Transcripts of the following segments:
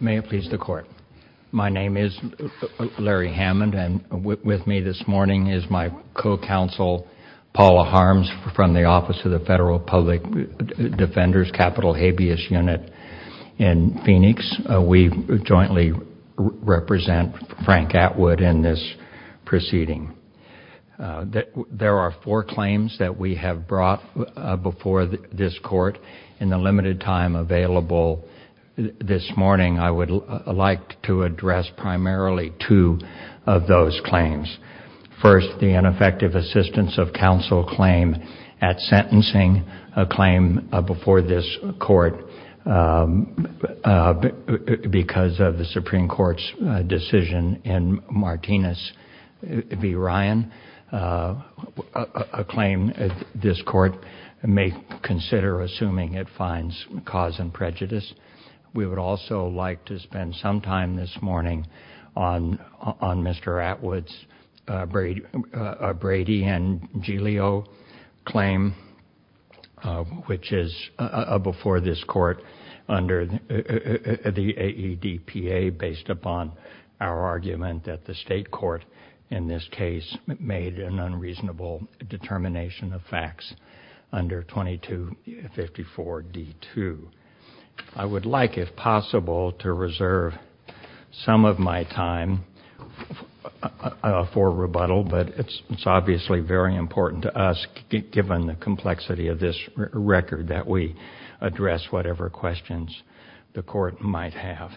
My name is Larry Hammond and with me this morning is my co-counsel Paula Harms from the Office of the Federal Public Defender's Capital Habeas Unit in Phoenix. We jointly represent Frank Atwood in this proceeding. There are four claims that we have brought before this court in the limited time available this morning. I would like to address primarily two of those claims. First, the ineffective assistance of counsel claim at sentencing a claim before this court because of the Supreme Court's decision in Martinez v. Ryan, a claim this court may consider assuming it finds cause and prejudice. We would also like to spend some time this morning on Mr. Atwood's Brady v. Giglio claim which is before this court under the AEDPA based upon our argument that the state court in this case made an unreasonable determination of facts under 2254d2. I would like, if possible, to reserve some of my time for rebuttal, but it's obviously very important to us given the complexity of this record that we address whatever questions the court might have.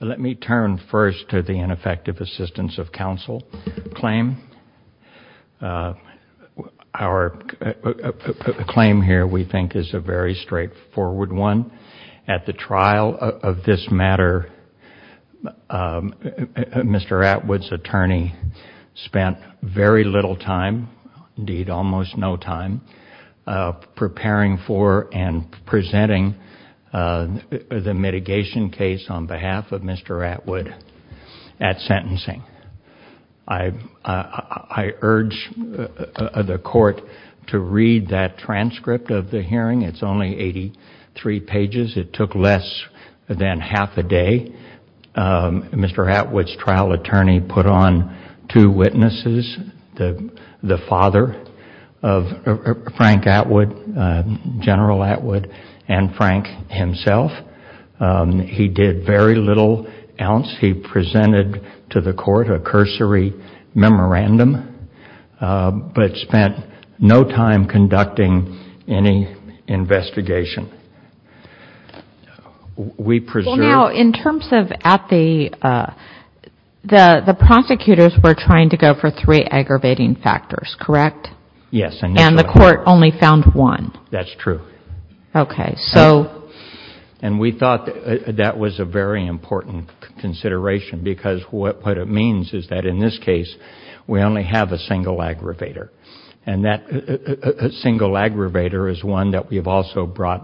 Let me turn first to the ineffective assistance of counsel claim. Our claim here, we think, is a very straightforward one. At the trial of this matter, Mr. Atwood's attorney spent very little time, indeed almost no time, preparing for and presenting the mitigation case on behalf of Mr. Atwood at sentencing. I urge the court to read that transcript of the hearing. It's only 83 pages. It took less than half a day. Mr. Atwood's trial attorney put on two witnesses, the father of Frank Atwood, General Atwood, and Frank himself. He did very little else. He presented to the court a cursory memorandum, but spent no time conducting any investigation. We preserved- Now, in terms of at the, the prosecutors were trying to go for three aggravating factors, correct? Yes. Initially. And the court only found one? That's true. Okay. So- And we thought that was a very important consideration because what it means is that in this case, we only have a single aggravator. And that single aggravator is one that we have also brought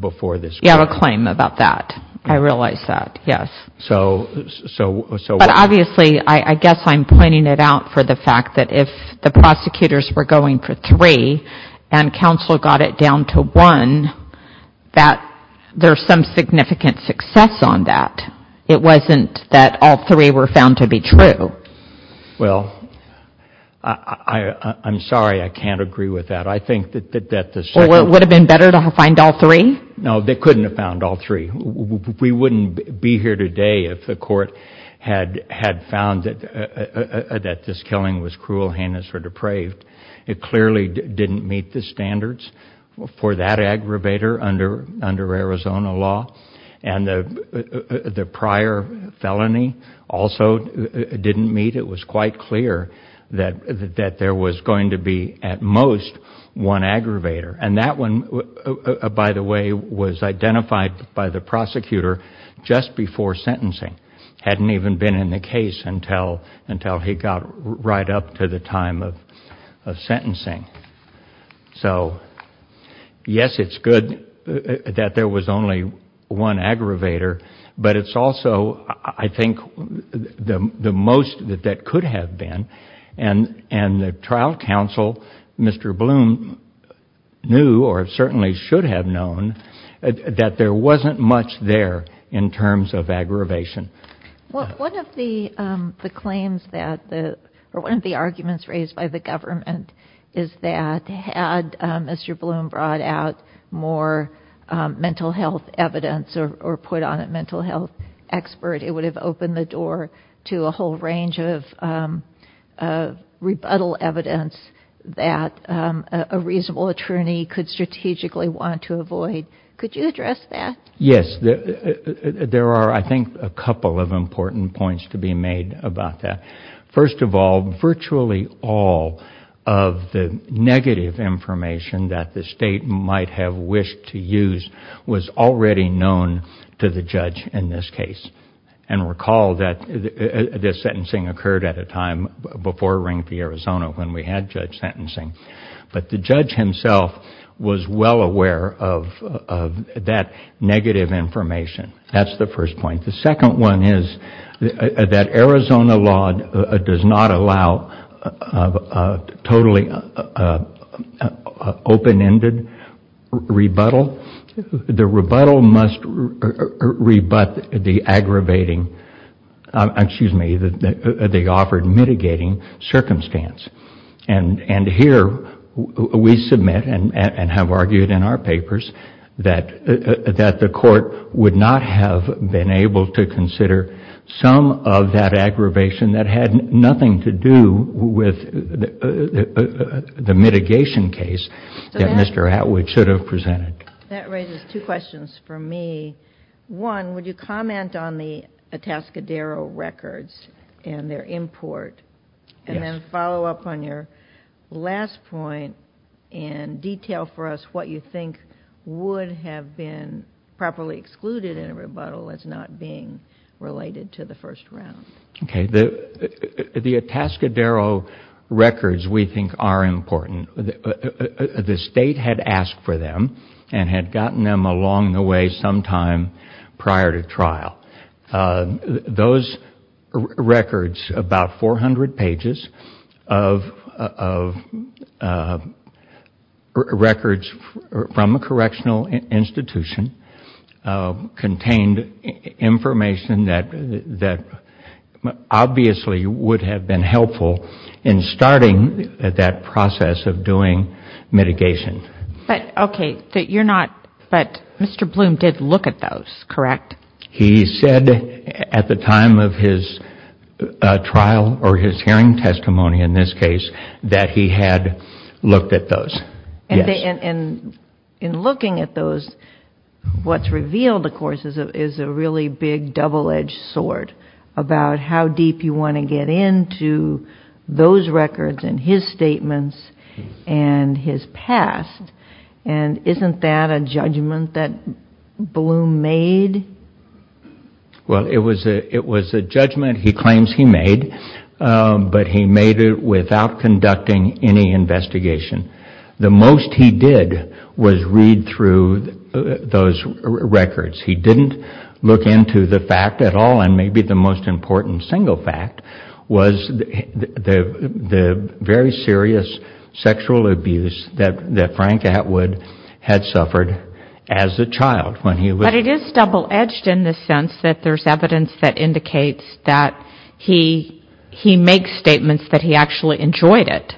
before this court. You have a claim about that. I realize that, yes. So- But obviously, I guess I'm pointing it out for the fact that if the prosecutors were going for three, and counsel got it down to one, that there's some significant success on that. It wasn't that all three were found to be true. Well, I'm sorry. I can't agree with that. I think that the- Well, it would have been better to find all three? No, they couldn't have found all three. It clearly didn't meet the standards for that aggravator under Arizona law. And the prior felony also didn't meet. It was quite clear that there was going to be, at most, one aggravator. And that one, by the way, was identified by the prosecutor just before sentencing. Hadn't even been in the case until he got right up to the time of sentencing. So yes, it's good that there was only one aggravator. But it's also, I think, the most that that could have been. And the trial counsel, Mr. Bloom, knew, or certainly should have known, that there wasn't much there in terms of aggravation. One of the claims that, or one of the arguments raised by the government, is that had Mr. Bloom brought out more mental health evidence or put on a mental health expert, it would have opened the door to a whole range of rebuttal evidence that a reasonable attorney could strategically want to avoid. Could you address that? Yes. There are, I think, a couple of important points to be made about that. First of all, virtually all of the negative information that the state might have wished to use was already known to the judge in this case. And recall that this sentencing occurred at a time before Ring v. Arizona when we had judge sentencing. But the judge himself was well aware of that negative information. That's the first point. The second one is that Arizona law does not allow totally open-ended rebuttal. The rebuttal must rebut the aggravating, excuse me, the offered mitigating circumstance. And here, we submit and have argued in our papers that the court would not have been able to consider some of that aggravation that had nothing to do with the mitigation case that Mr. Atwood should have presented. That raises two questions for me. One, would you comment on the Atascadero records and their import? Yes. And then follow up on your last point and detail for us what you think would have been properly excluded in a rebuttal as not being related to the first round. Okay. The Atascadero records, we think, are important. The state had asked for them and had gotten them along the way sometime prior to trial. Those records, about 400 pages of records from a correctional institution, contained information that obviously would have been helpful in starting that process of doing mitigation. Okay. But you're not, but Mr. Bloom did look at those, correct? He said at the time of his trial or his hearing testimony in this case that he had looked at those. Yes. And in looking at those, what's revealed, of course, is a really big double-edged sword about how deep you want to get into those records and his statements and his past. And isn't that a judgment that Bloom made? Well, it was a judgment he claims he made, but he made it without conducting any investigation. The most he did was read through those records. He didn't look into the fact at all, and maybe the most important single fact was the very serious sexual abuse that Frank Atwood had suffered as a child when he was... But it is double-edged in the sense that there's evidence that indicates that he makes statements that he actually enjoyed it.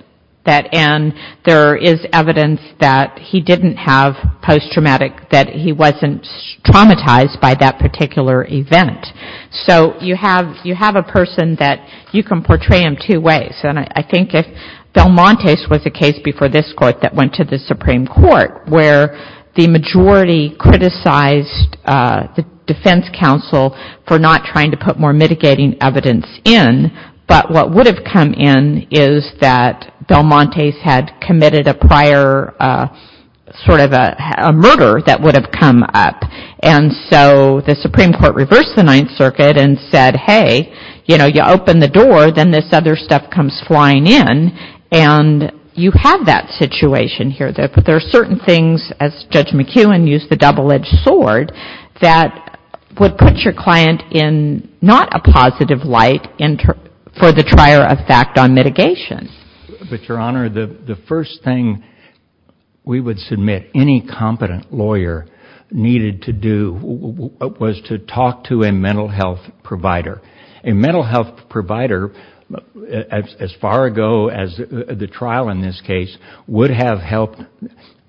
And there is evidence that he didn't have post-traumatic, that he wasn't traumatized by that particular event. So you have a person that you can portray in two ways. And I think if Valmontes was a case before this Court that went to the Supreme Court where the majority criticized the defense counsel for not trying to put more mitigating evidence in, but what would have come in is that Valmontes had committed a prior sort of a murder that would have come up. And so the Supreme Court reversed the Ninth Circuit and said, hey, you know, you open the door, then this other stuff comes flying in, and you have that situation here. There are certain things, as Judge McKeown used the double-edged sword, that would put your client in not a positive light for the trier of fact on mitigation. But, Your Honor, the first thing we would submit any competent lawyer needed to do was to talk to a mental health provider. A mental health provider, as far ago as the trial in this case, would have helped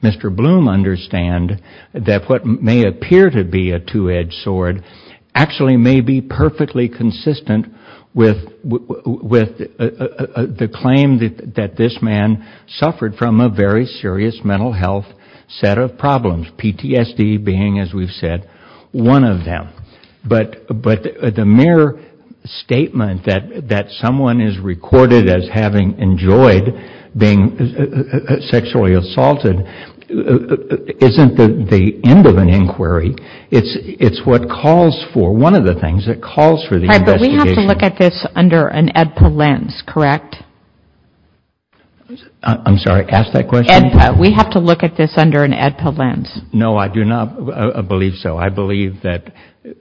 Mr. Valmontes, who had a two-edged sword, actually may be perfectly consistent with the claim that this man suffered from a very serious mental health set of problems, PTSD being, as we've said, one of them. But the mere statement that someone is recorded as having enjoyed being sexually assaulted isn't the end of an inquiry. It's what calls for, one of the things that calls for the investigation. Right, but we have to look at this under an AEDPA lens, correct? I'm sorry, ask that question? We have to look at this under an AEDPA lens. No, I do not believe so. I believe that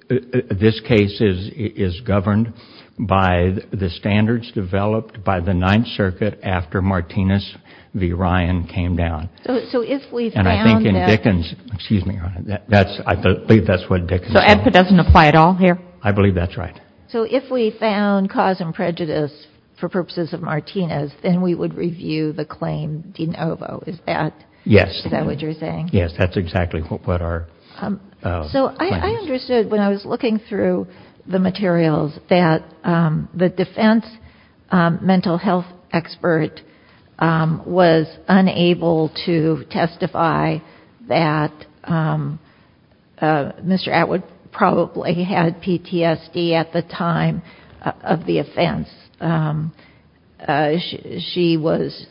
this case is governed by the standards developed by the Ninth Circuit after Martinez v. Ryan came down. So if we found that... And I think in Dickens, excuse me, Your Honor, I believe that's what Dickens... So AEDPA doesn't apply at all here? I believe that's right. So if we found cause and prejudice for purposes of Martinez, then we would review the claim de novo, is that what you're saying? Yes, that's exactly what our findings... So I understood when I was looking through the materials that the defense mental health expert was unable to testify that Mr. Atwood probably had PTSD at the time of the offense. She was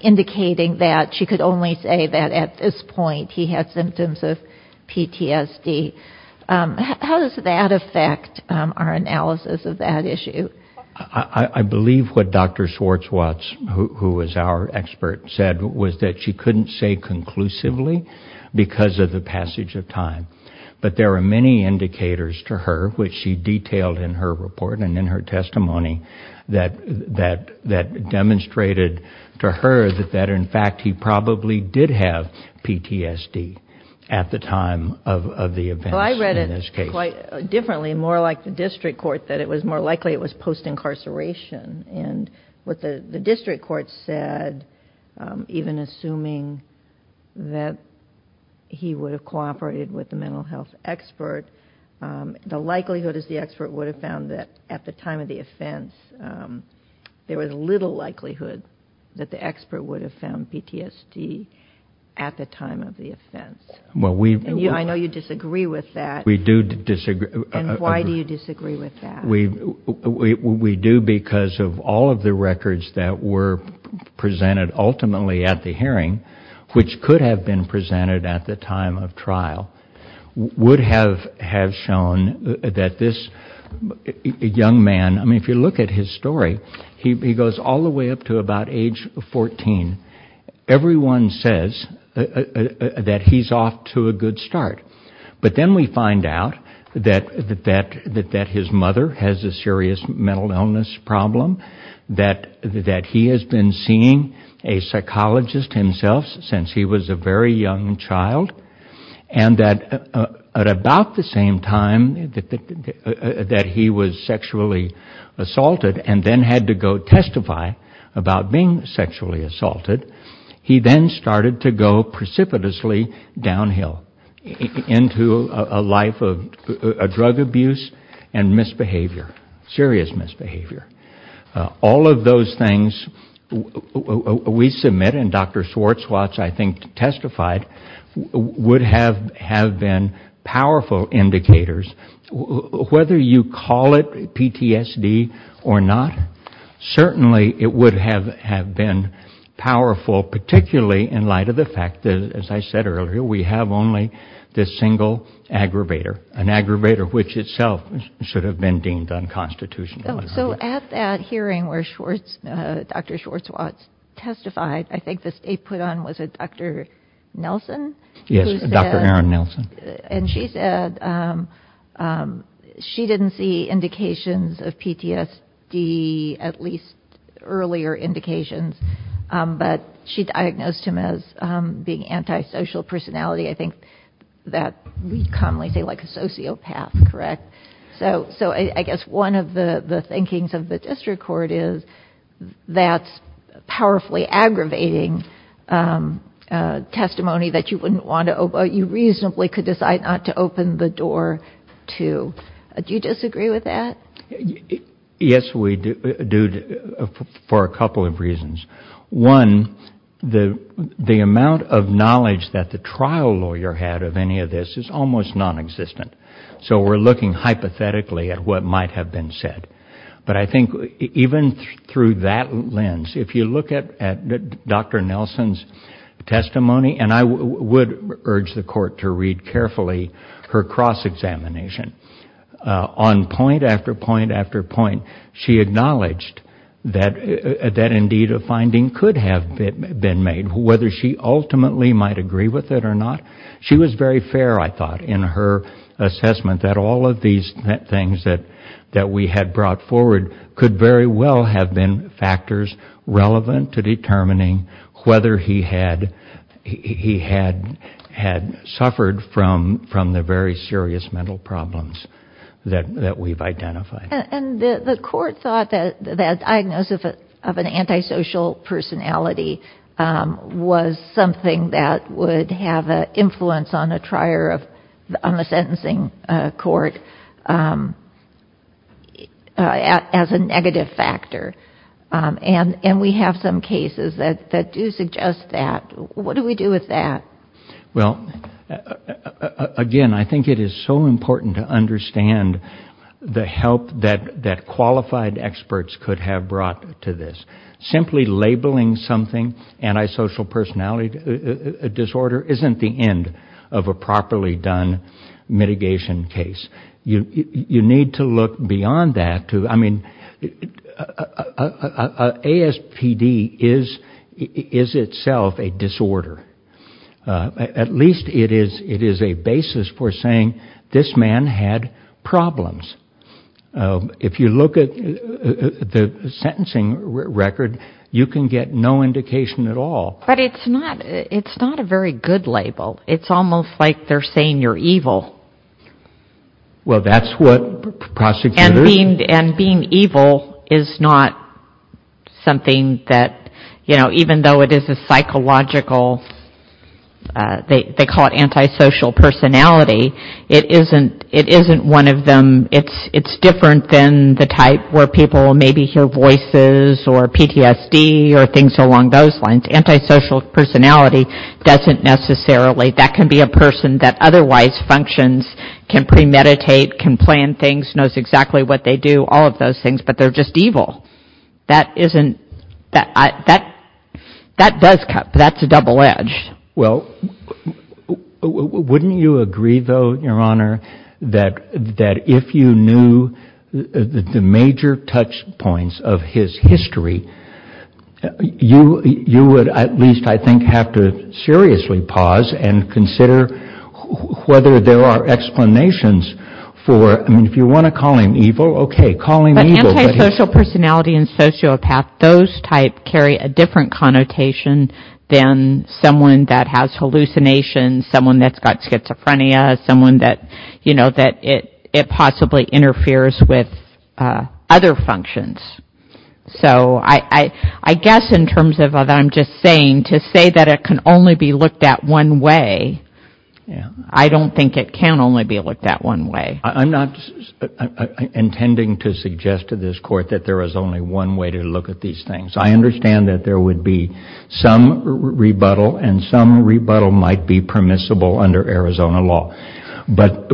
indicating that she could only say that at this point he had symptoms of PTSD. How does that affect our analysis of that issue? I believe what Dr. Schwartzwatz, who was our expert, said was that she couldn't say conclusively because of the passage of time. But there are many indicators to her, which she detailed in her report and in her testimony, that demonstrated to her that in fact he probably did have PTSD at the time of the offense. I read it quite differently, more like the district court, that it was more likely it was post-incarceration. What the district court said, even assuming that he would have cooperated with the mental health expert, the likelihood is the expert would have found that at the time of the offense, there was little likelihood that the expert would have found PTSD at the time of the offense. I know you disagree with that, and why do you disagree with that? We do because of all of the records that were presented ultimately at the hearing, which could have been presented at the time of trial, would have shown that this young man, if you look at his story, he goes all the way up to about age 14. Everyone says that he's off to a good start. But then we find out that his mother has a serious mental illness problem, that he has been seeing a psychologist himself since he was a very young child, and that at about the same time that he was sexually assaulted and then had to go testify about being sexually assaulted, he then started to go precipitously downhill into a life of drug abuse and misbehavior, serious misbehavior. All of those things we submit, and Dr. Swartzwatts, I think, testified, would have been powerful indicators. Whether you call it PTSD or not, certainly it would have been powerful, particularly in light of the fact that, as I said earlier, we have only this single aggravator, an aggravator which itself should have been deemed unconstitutional. So at that hearing where Dr. Swartzwatts testified, I think the state put on, was it Dr. Nelson? Yes, Dr. Erin Nelson. And she said she didn't see indications of PTSD, at least earlier indications, but she diagnosed him as being anti-social personality. I think that we commonly say like a sociopath, correct? So I guess one of the thinkings of the district court is that's powerfully aggravating testimony that you reasonably could decide not to open the door to. Do you disagree with that? Yes, we do, for a couple of reasons. One, the amount of knowledge that the trial lawyer had of any of this is almost non-existent. So we're looking hypothetically at what might have been said. But I think even through that lens, if you look at Dr. Nelson's testimony, and I would urge the court to read carefully her cross-examination, on point after point after point, she acknowledged that indeed a finding could have been made, whether she ultimately might agree with it or not. She was very fair, I thought, in her assessment that all of these things that we had brought forward could very well have been factors relevant to determining whether he had suffered from the very serious mental problems that we've identified. And the court thought that the diagnosis of an anti-social personality was something that would have an influence on the sentencing court as a negative factor. And we have some cases that do suggest that. What do we do with that? Well, again, I think it is so important to understand the help that qualified experts could have brought to this. Simply labeling something anti-social personality disorder isn't the end of a properly done mitigation case. You need to look beyond that. I mean, ASPD is itself a disorder. At least it is a basis for saying this man had problems. If you look at the sentencing record, you can get no indication at all. But it's not a very good label. It's almost like they're saying you're evil. Well, that's what prosecutors... And being evil is not something that, you know, even though it is a psychological, they don't... It isn't one of them. It's different than the type where people maybe hear voices or PTSD or things along those lines. Anti-social personality doesn't necessarily... That can be a person that otherwise functions, can premeditate, can plan things, knows exactly what they do, all of those things, but they're just evil. That doesn't... That's a double-edged. Well, wouldn't you agree, though, Your Honor, that if you knew the major touch points of his history, you would at least, I think, have to seriously pause and consider whether there are explanations for... I mean, if you want to call him evil, okay, call him evil. But anti-social personality and sociopath, those type carry a different connotation than someone that has hallucinations, someone that's got schizophrenia, someone that, you know, that it possibly interferes with other functions. So I guess in terms of what I'm just saying, to say that it can only be looked at one way, I don't think it can only be looked at one way. I'm not intending to suggest to this Court that there is only one way to look at these things. I understand that there would be some rebuttal, and some rebuttal might be permissible under Arizona law. But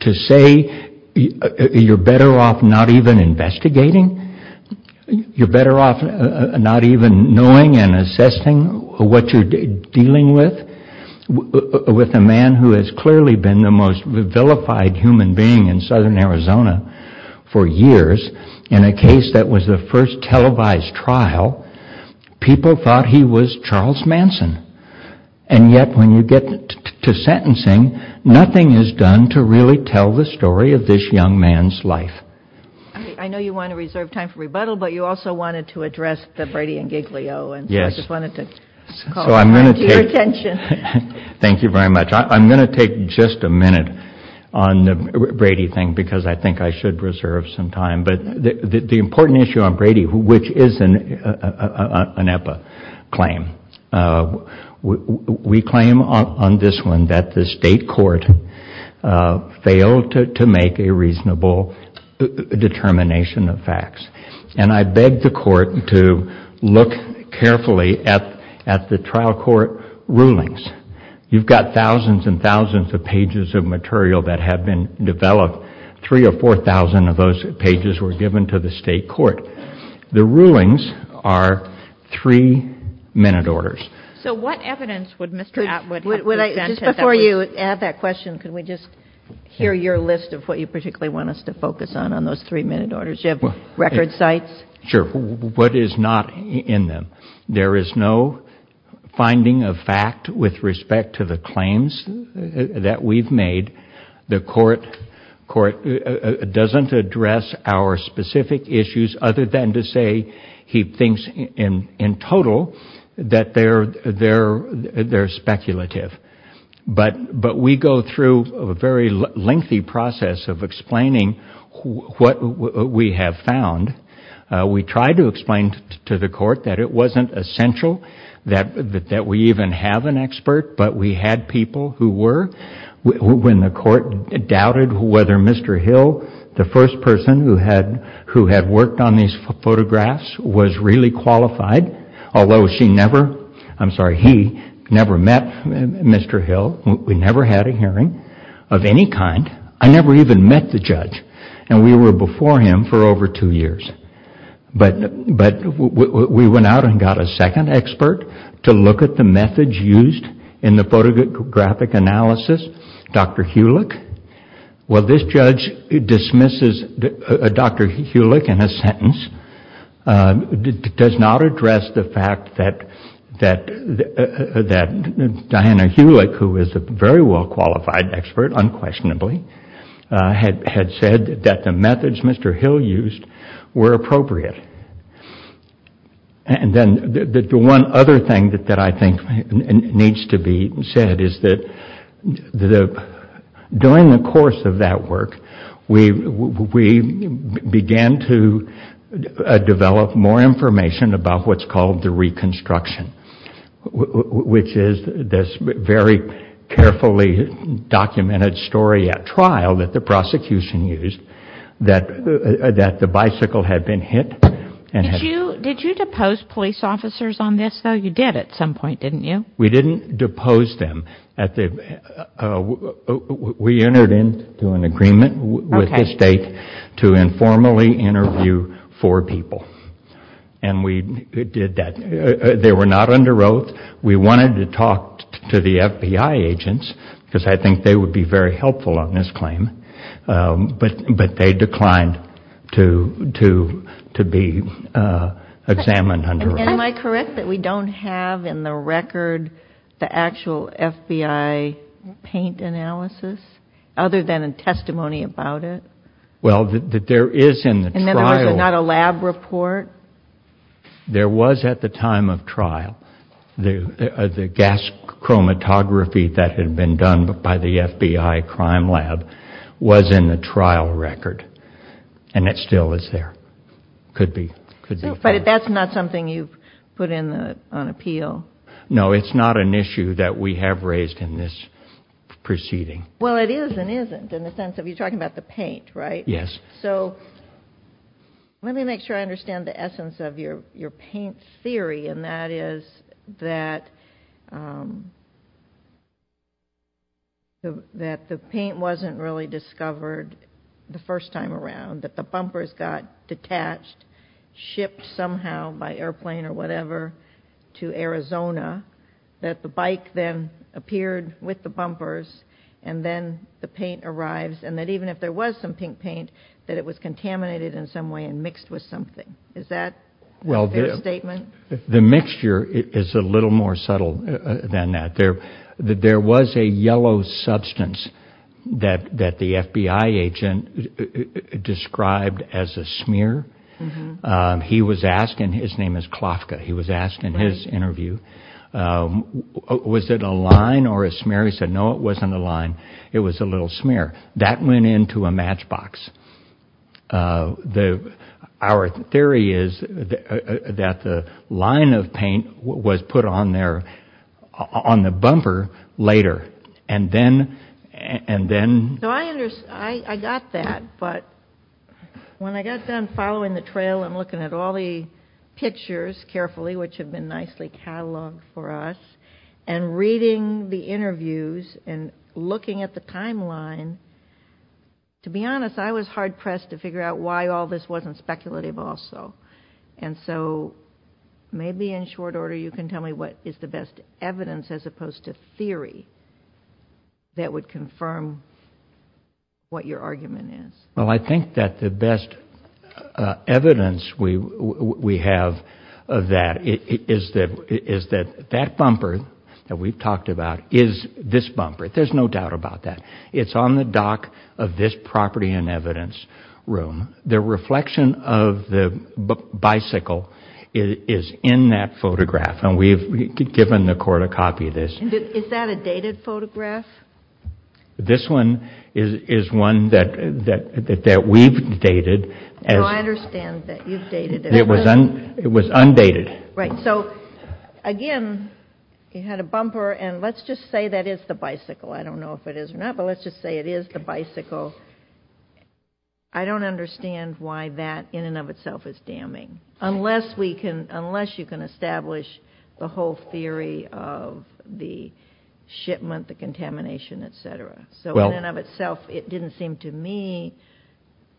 to say you're better off not even investigating, you're better off not even knowing and assessing what you're dealing with, with a man who has clearly been the most vilified human being in southern Arizona for years in a case that was the first televised trial, people thought he was Charles Manson. And yet when you get to sentencing, nothing is done to really tell the story of this young man's life. I know you want to reserve time for rebuttal, but you also wanted to address the Brady and Giglio, and so I just wanted to call that to your attention. Thank you very much. I'm going to take just a minute on the Brady thing, because I think I should reserve some time. But the important issue on Brady, which is an EPA claim, we claim on this one that the state court failed to make a reasonable determination of facts. And I beg the court to look carefully at the trial court rulings. You've got thousands and thousands of pages of material that have been developed. Three or four thousand of those pages were given to the state court. The rulings are three-minute orders. So what evidence would Mr. Atwood present at that point? Just before you add that question, can we just hear your list of what you particularly want us to focus on on those three-minute orders? Do you have record sites? Sure. What is not in them? There is no finding of fact with respect to the claims that we've made. The court doesn't address our specific issues other than to say he thinks in total that they're speculative. But we go through a very lengthy process of explaining what we have found. We try to explain to the court that it wasn't essential that we even have an expert, but we had people who were. When the court doubted whether Mr. Hill, the first person who had worked on these photographs, was really qualified, although she never, I'm sorry, he never met Mr. Hill. We never had a hearing of any kind. I never even met the judge, and we were before him for over two years. But we went out and got a second expert to look at the methods used in the photographic analysis, Dr. Hulick. Well, this judge dismisses Dr. Hulick in a sentence, does not address the fact that Diana Hulick, who is a very well-qualified expert unquestionably, had said that the methods Mr. Hill used were appropriate. And then the one other thing that I think needs to be said is that during the course of that work, we began to develop more information about what's called the reconstruction, which is this very carefully documented story at trial that the prosecution used, that the bicycle had been hit. Did you depose police officers on this, though? You did at some point, didn't you? We didn't depose them. We entered into an agreement with the state to informally interview four people, and we did that. They were not under oath. We wanted to talk to the FBI agents, because I think they would be very helpful on this claim, but they declined to be examined under oath. Am I correct that we don't have in the record the actual FBI paint analysis, other than a testimony about it? Well, there is in the trial. In other words, not a lab report? There was at the time of trial. The gas chromatography that had been done by the FBI crime lab was in the trial record, and it still is there. Could be. But that's not something you've put on appeal? No, it's not an issue that we have raised in this proceeding. Well, it is and isn't in the sense of you talking about the paint, right? Yes. Let me make sure I understand the essence of your paint theory, and that is that the paint wasn't really discovered the first time around, that the bumpers got detached, shipped somehow by airplane or whatever to Arizona, that the bike then appeared with the bumpers, and then the paint arrives, and that even if there was some pink paint, that it was contaminated in some way and mixed with something. Is that a fair statement? Well, the mixture is a little more subtle than that. There was a yellow substance that the FBI agent described as a smear. His name is Klofka. He was asked in his interview, was it a line or a smear? He said, no, it wasn't a line. It was a little smear. That went into a matchbox. Our theory is that the line of paint was put on the bumper later, and then... I got that, but when I got done following the trail and looking at all the pictures carefully, which have been nicely cataloged for us, and reading the interviews and looking at the timeline, to be honest, I was hard pressed to figure out why all this wasn't speculative also. Maybe in short order, you can tell me what is the best evidence as opposed to theory that would confirm what your argument is. Well, I think that the best evidence we have of that is that that bumper that we've talked about is this bumper. There's no doubt about that. It's on the dock of this property and evidence room. The reflection of the bicycle is in that photograph, and we've given the court a copy of this. Is that a dated photograph? This one is one that we've dated. No, I understand that you've dated it. It was undated. Right. So, again, you had a bumper, and let's just say that is the bicycle. I don't know if it is or not, but let's just say it is the bicycle. I don't understand why that in and of itself is damning, unless you can establish the whole So, in and of itself, it didn't seem to me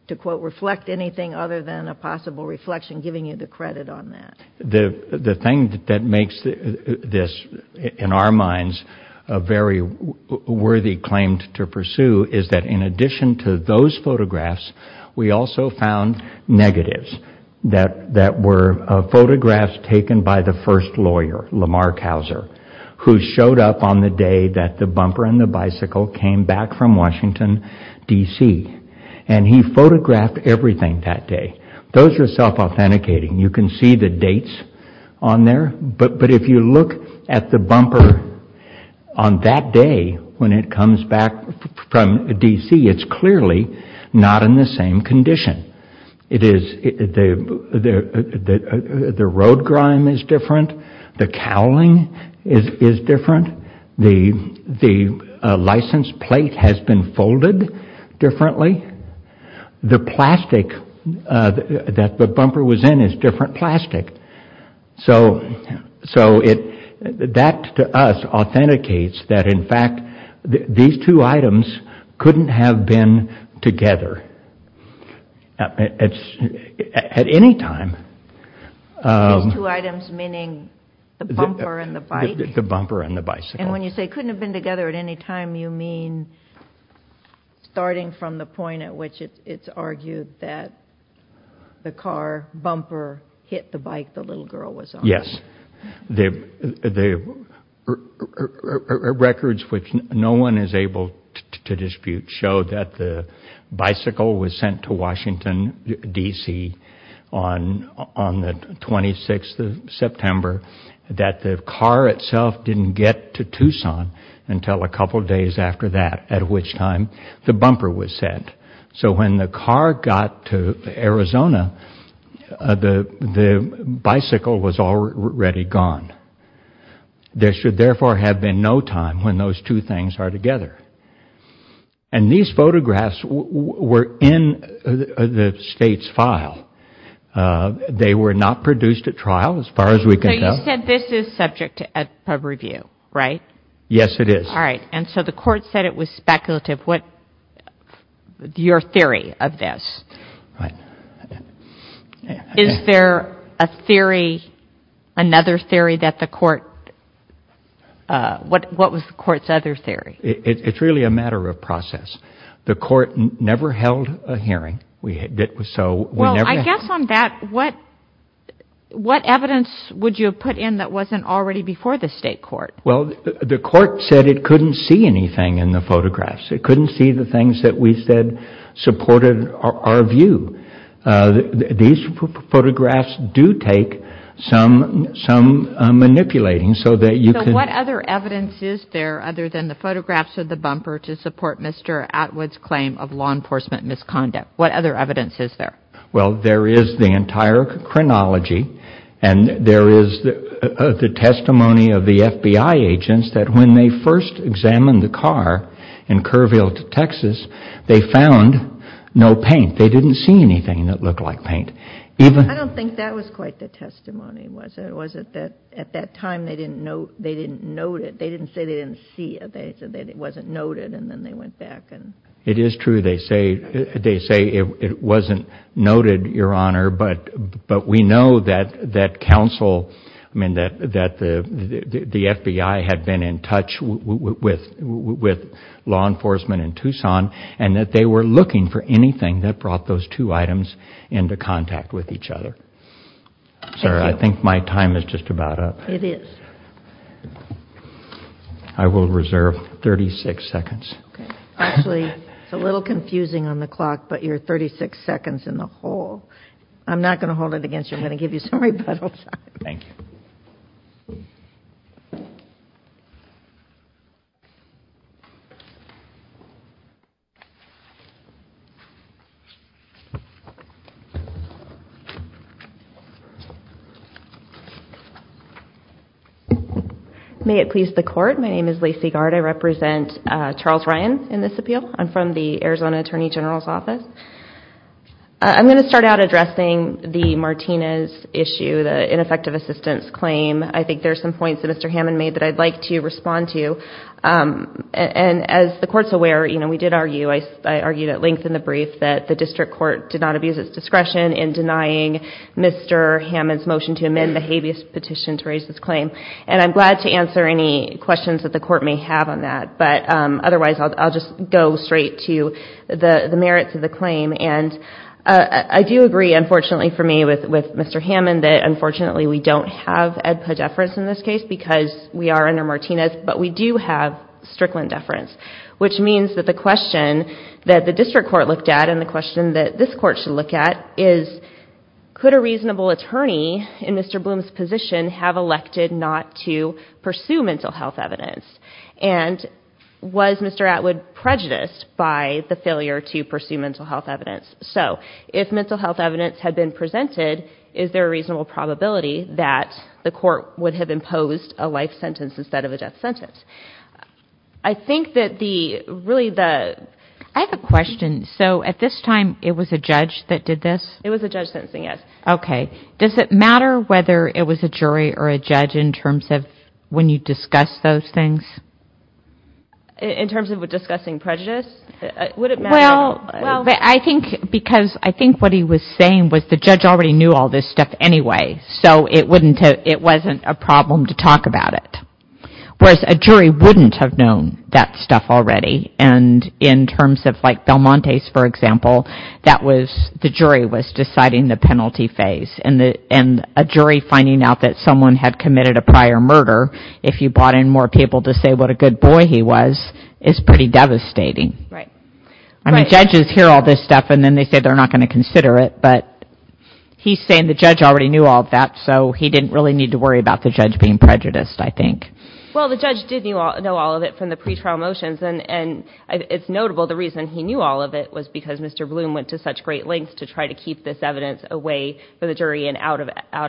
to, quote, reflect anything other than a possible reflection, giving you the credit on that. The thing that makes this, in our minds, a very worthy claim to pursue is that in addition to those photographs, we also found negatives that were photographs taken by the first lawyer, Lamar Couser, who showed up on the day that the bumper and the bicycle came back from Washington, D.C., and he photographed everything that day. Those are self-authenticating. You can see the dates on there, but if you look at the bumper on that day when it comes back from D.C., it's clearly not in the same condition. The road grime is different. The cowling is different. The license plate has been folded differently. The plastic that the bumper was in is different plastic. So that, to us, authenticates that, in fact, these two items couldn't have been together at any time. These two items meaning the bumper and the bike? The bumper and the bicycle. And when you say couldn't have been together at any time, you mean starting from the point at which it's argued that the car bumper hit the bike the little girl was on? Yes. The records, which no one is able to dispute, show that the bicycle was sent to Washington, D.C., on the 26th of September, that the car itself didn't get to Tucson until a couple days after that, at which time the bumper was sent. So when the car got to Arizona, the bicycle was already gone. There should therefore have been no time when those two things are together. And these photographs were in the state's file. They were not produced at trial, as far as we can tell. So you said this is subject to review, right? Yes, it is. All right. And so the court said it was speculative. What is your theory of this? Right. Is there a theory, another theory that the court, what was the court's other theory? It's really a matter of process. The court never held a hearing. Well, I guess on that, what evidence would you have put in that wasn't already before the state court? Well, the court said it couldn't see anything in the photographs. It couldn't see the things that we said supported our view. These photographs do take some manipulating so that you can... So what other evidence is there, other than the photographs of the bumper, to support Mr. Atwood's claim of law enforcement misconduct? What other evidence is there? Well, there is the entire chronology, and there is the testimony of the FBI agents that when they first examined the car in Kerrville, Texas, they found no paint. They didn't see anything that looked like paint. I don't think that was quite the testimony, was it? Was it that at that time they didn't note it? They didn't say they didn't see it. They said that it wasn't noted, and then they went back and... It is true. They say it wasn't noted, Your Honor, but we know that the FBI had been in touch with law enforcement in Tucson and that they were looking for anything that brought those two items into contact with each other. Thank you. Sir, I think my time is just about up. It is. I will reserve 36 seconds. Okay. Actually, it's a little confusing on the clock, but you're 36 seconds in the hole. I'm not going to hold it against you. I'm going to give you some rebuttals. Thank you. May it please the Court. My name is Lacy Gard. I represent Charles Ryan in this appeal. I'm from the Arizona Attorney General's Office. I'm going to start out addressing the Martinez issue, the ineffective assistance claim. I think there are some points that Mr. Hammond made that I'd like to respond to. And as the Court is aware, we did argue, I argued at length in the brief, that the district court did not abuse its discretion in denying Mr. Hammond's motion to amend the habeas petition to raise this claim. And I'm glad to answer any questions that the Court may have on that. But otherwise, I'll just go straight to the merits of the claim. And I do agree, unfortunately for me, with Mr. Hammond, that unfortunately we don't have AEDPA deference in this case because we are under Martinez. But we do have Strickland deference, which means that the question that the district court looked at and the question that this Court should look at is, could a reasonable attorney in Mr. Bloom's position have elected not to pursue mental health evidence? And was Mr. Atwood prejudiced by the failure to pursue mental health evidence? So if mental health evidence had been presented, is there a reasonable probability that the Court would have imposed a life sentence instead of a death sentence? I think that the, really the… I have a question. So at this time, it was a judge that did this? It was a judge sentencing, yes. Okay. Does it matter whether it was a jury or a judge in terms of when you discuss those things? In terms of discussing prejudice? Would it matter? Well, I think because I think what he was saying was the judge already knew all this stuff anyway, so it wasn't a problem to talk about it. Whereas a jury wouldn't have known that stuff already. And in terms of like Belmonte's, for example, that was the jury was deciding the penalty phase. And a jury finding out that someone had committed a prior murder, if you brought in more people to say what a good boy he was, is pretty devastating. Right. I mean judges hear all this stuff and then they say they're not going to consider it, but he's saying the judge already knew all of that, so he didn't really need to worry about the judge being prejudiced, I think. Well, the judge did know all of it from the pretrial motions, and it's notable the reason he knew all of it was because Mr. Bloom went to such great lengths to try to keep this evidence away from the jury and out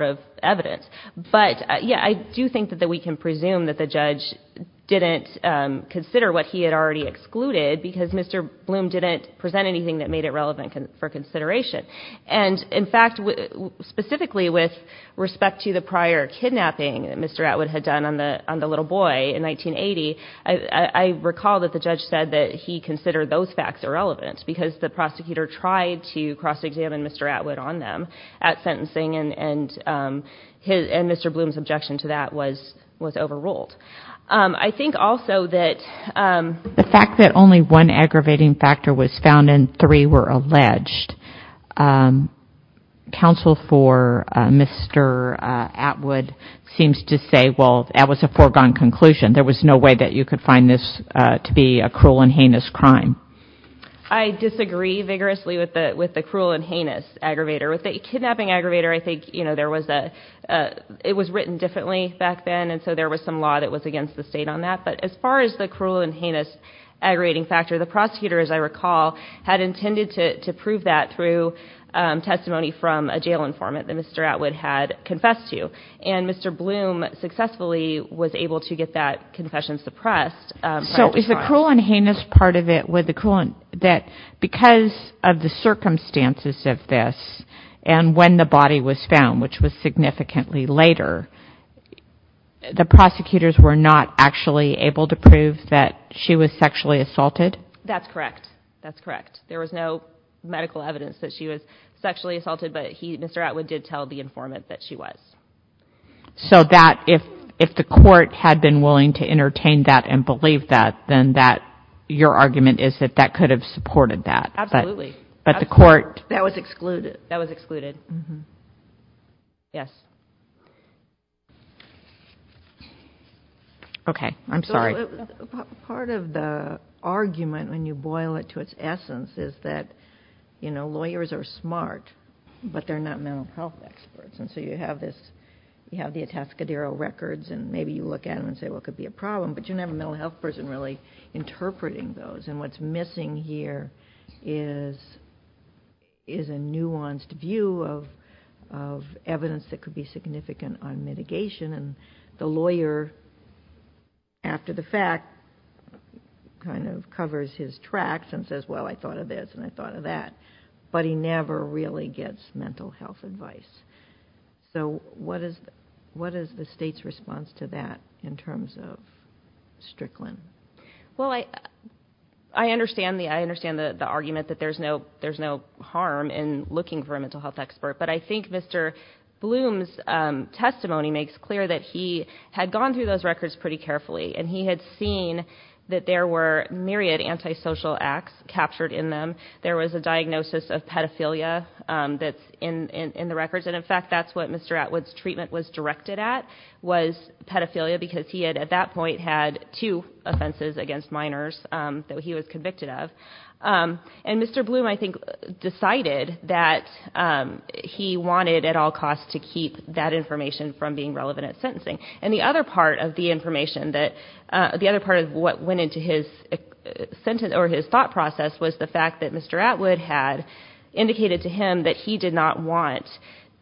of evidence. But, yeah, I do think that we can presume that the judge didn't consider what he had already excluded because Mr. Bloom didn't present anything that made it relevant for consideration. And, in fact, specifically with respect to the prior kidnapping that Mr. Atwood had done on the little boy in 1980, I recall that the judge said that he considered those facts irrelevant because the prosecutor tried to cross-examine Mr. Atwood on them at sentencing and Mr. Bloom's objection to that was overruled. The fact that only one aggravating factor was found and three were alleged, counsel for Mr. Atwood seems to say, well, that was a foregone conclusion. There was no way that you could find this to be a cruel and heinous crime. I disagree vigorously with the cruel and heinous aggravator. With the kidnapping aggravator, I think it was written differently back then, and so there was some law that was against the state on that. But as far as the cruel and heinous aggravating factor, the prosecutor, as I recall, had intended to prove that through testimony from a jail informant that Mr. Atwood had confessed to. And Mr. Bloom successfully was able to get that confession suppressed. So is the cruel and heinous part of it that because of the circumstances of this and when the body was found, which was significantly later, the prosecutors were not actually able to prove that she was sexually assaulted? That's correct. That's correct. There was no medical evidence that she was sexually assaulted, but Mr. Atwood did tell the informant that she was. So that if the court had been willing to entertain that and believe that, then your argument is that that could have supported that. Absolutely. But the court... That was excluded. Yes. Okay. I'm sorry. Part of the argument, when you boil it to its essence, is that lawyers are smart, but they're not mental health experts. And so you have the Atascadero records and maybe you look at them and say, well, it could be a problem, but you don't have a mental health person really interpreting those. And what's missing here is a nuanced view of evidence that could be significant on mitigation. And the lawyer, after the fact, kind of covers his tracks and says, well, I thought of this and I thought of that. But he never really gets mental health advice. So what is the State's response to that in terms of Strickland? Well, I understand the argument that there's no harm in looking for a mental health expert, but I think Mr. Bloom's testimony makes clear that he had gone through those records pretty carefully and he had seen that there were myriad antisocial acts captured in them. There was a diagnosis of pedophilia that's in the records. And, in fact, that's what Mr. Atwood's treatment was directed at, was pedophilia, because he had, at that point, had two offenses against minors that he was convicted of. And Mr. Bloom, I think, decided that he wanted, at all costs, And the other part of what went into his thought process was the fact that Mr. Atwood had indicated to him that he did not want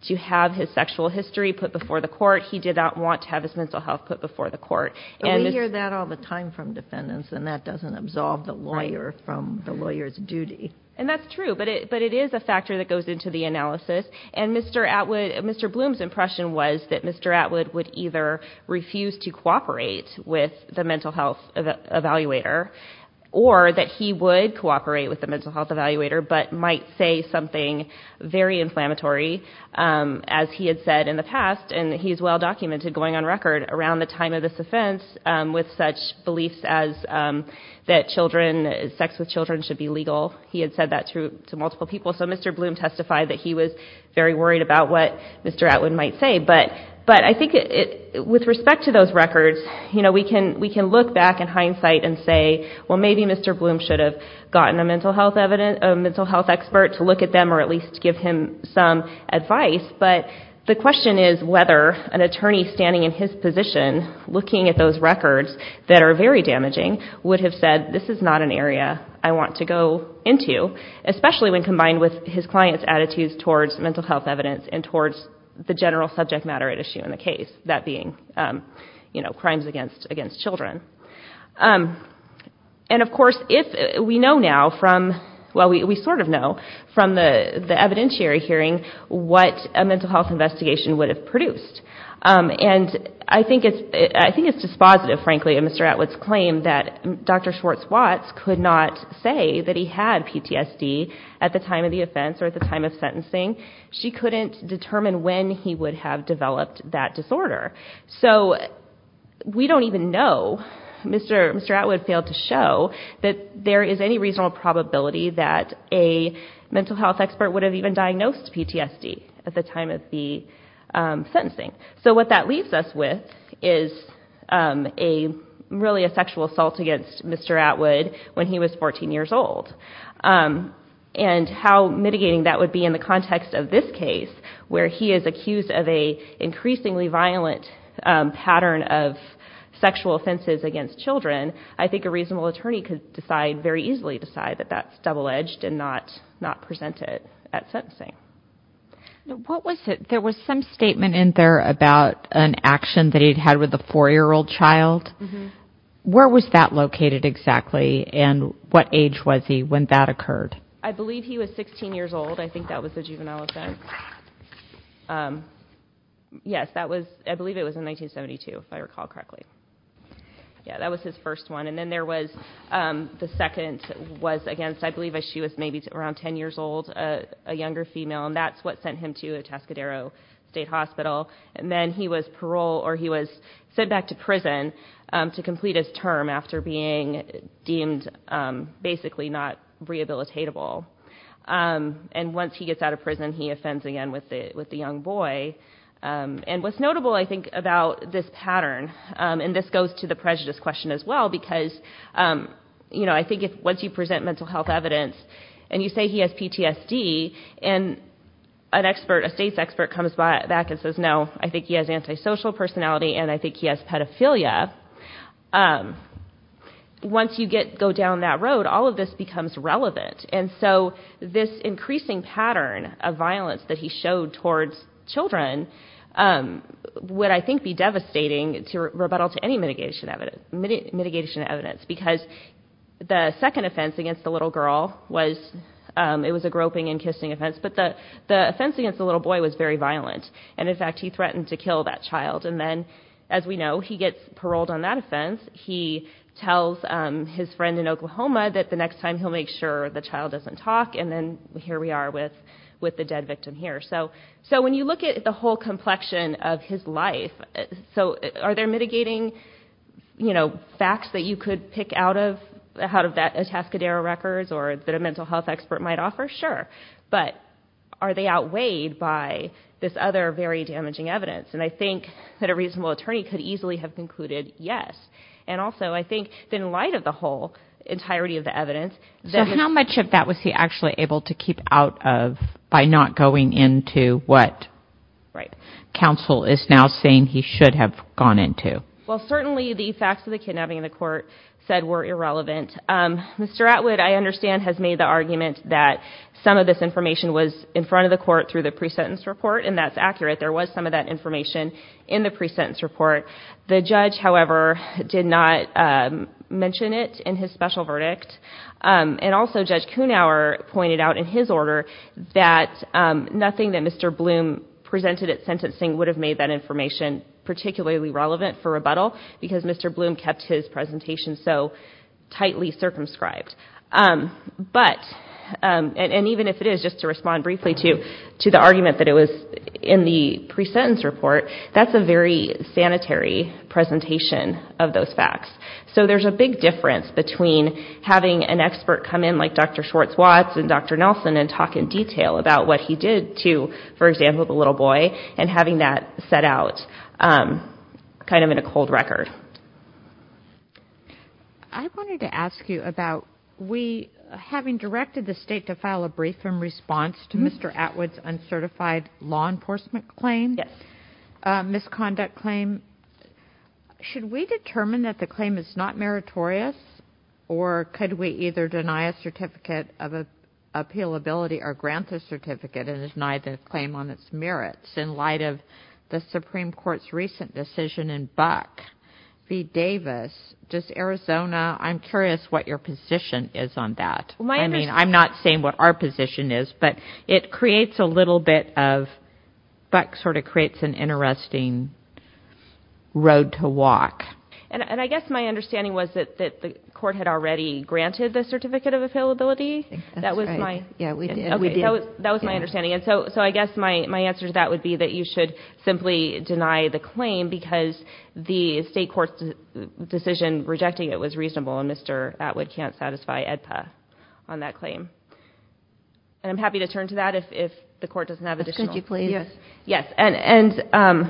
to have his sexual history put before the court. He did not want to have his mental health put before the court. But we hear that all the time from defendants, and that doesn't absolve the lawyer from the lawyer's duty. And that's true, but it is a factor that goes into the analysis. And Mr. Bloom's impression was that Mr. Atwood would either refuse to cooperate with the mental health evaluator or that he would cooperate with the mental health evaluator but might say something very inflammatory, as he had said in the past, and he's well documented going on record, around the time of this offense with such beliefs as that sex with children should be legal. He had said that to multiple people. So Mr. Bloom testified that he was very worried about what Mr. Atwood might say. But I think with respect to those records, we can look back in hindsight and say, well, maybe Mr. Bloom should have gotten a mental health expert to look at them or at least give him some advice. But the question is whether an attorney standing in his position, looking at those records that are very damaging, would have said, this is not an area I want to go into, especially when combined with his client's attitudes towards mental health evidence and towards the general subject matter at issue in the case, that being crimes against children. And, of course, we know now from, well, we sort of know from the evidentiary hearing what a mental health investigation would have produced. And I think it's dispositive, frankly, of Mr. Atwood's claim that Dr. Schwartz-Watts could not say that he had PTSD at the time of the offense or at the time of sentencing. She couldn't determine when he would have developed that disorder. So we don't even know. Mr. Atwood failed to show that there is any reasonable probability that a mental health expert would have even diagnosed PTSD at the time of the sentencing. So what that leaves us with is really a sexual assault against Mr. Atwood when he was 14 years old. And how mitigating that would be in the context of this case, where he is accused of an increasingly violent pattern of sexual offenses against children, I think a reasonable attorney could decide, very easily decide, that that's double-edged and not present it at sentencing. There was some statement in there about an action that he'd had with a 4-year-old child. Where was that located exactly, and what age was he when that occurred? I believe he was 16 years old. I think that was the juvenile offense. Yes, I believe it was in 1972, if I recall correctly. Yes, that was his first one. And then there was the second was against, I believe she was maybe around 10 years old, a younger female, and that's what sent him to Atascadero State Hospital. And then he was paroled, or he was sent back to prison to complete his term after being deemed basically not rehabilitatable. And once he gets out of prison, he offends again with the young boy. And what's notable, I think, about this pattern, and this goes to the prejudice question as well, because I think once you present mental health evidence and you say he has PTSD and a state's expert comes back and says, no, I think he has antisocial personality and I think he has pedophilia, once you go down that road, all of this becomes relevant. And so this increasing pattern of violence that he showed towards children would, I think, be devastating to rebuttal to any mitigation evidence, because the second offense against the little girl was a groping and kissing offense, but the offense against the little boy was very violent. And, in fact, he threatened to kill that child. And then, as we know, he gets paroled on that offense. He tells his friend in Oklahoma that the next time he'll make sure the child doesn't talk, and then here we are with the dead victim here. So when you look at the whole complexion of his life, are there mitigating facts that you could pick out of that Atascadero records or that a mental health expert might offer? Sure, but are they outweighed by this other very damaging evidence? And I think that a reasonable attorney could easily have concluded yes. And also I think that, in light of the whole entirety of the evidence, that it's So how much of that was he actually able to keep out of by not going into what counsel is now saying he should have gone into? Well, certainly the facts of the kidnapping in the court said were irrelevant. Mr. Atwood, I understand, has made the argument that some of this information was in front of the court through the pre-sentence report, and that's accurate. There was some of that information in the pre-sentence report. The judge, however, did not mention it in his special verdict, and also Judge Kuhnauer pointed out in his order that nothing that Mr. Bloom presented at sentencing would have made that information particularly relevant for rebuttal because Mr. Bloom kept his presentation so tightly circumscribed. But, and even if it is, just to respond briefly to the argument that it was in the pre-sentence report, that's a very sanitary presentation of those facts. So there's a big difference between having an expert come in like Dr. Schwartz-Watts and Dr. Nelson and talk in detail about what he did to, for example, the little boy, and having that set out kind of in a cold record. I wanted to ask you about we, having directed the State to file a brief in response to Mr. Atwood's uncertified law enforcement claim, misconduct claim, should we determine that the claim is not meritorious, or could we either deny a certificate of appealability or grant the certificate and deny the claim on its merits in light of the Supreme Court's recent decision in Buck v. Davis, just Arizona? I'm curious what your position is on that. I mean, I'm not saying what our position is, but it creates a little bit of, Buck sort of creates an interesting road to walk. And I guess my understanding was that the Court had already granted the certificate of appealability? That's right. Yeah, we did. Okay, that was my understanding. And so I guess my answer to that would be that you should simply deny the claim because the State Court's decision rejecting it was reasonable, and Mr. Atwood can't satisfy AEDPA on that claim. And I'm happy to turn to that if the Court doesn't have additional. Could you please? Yes. Yes, and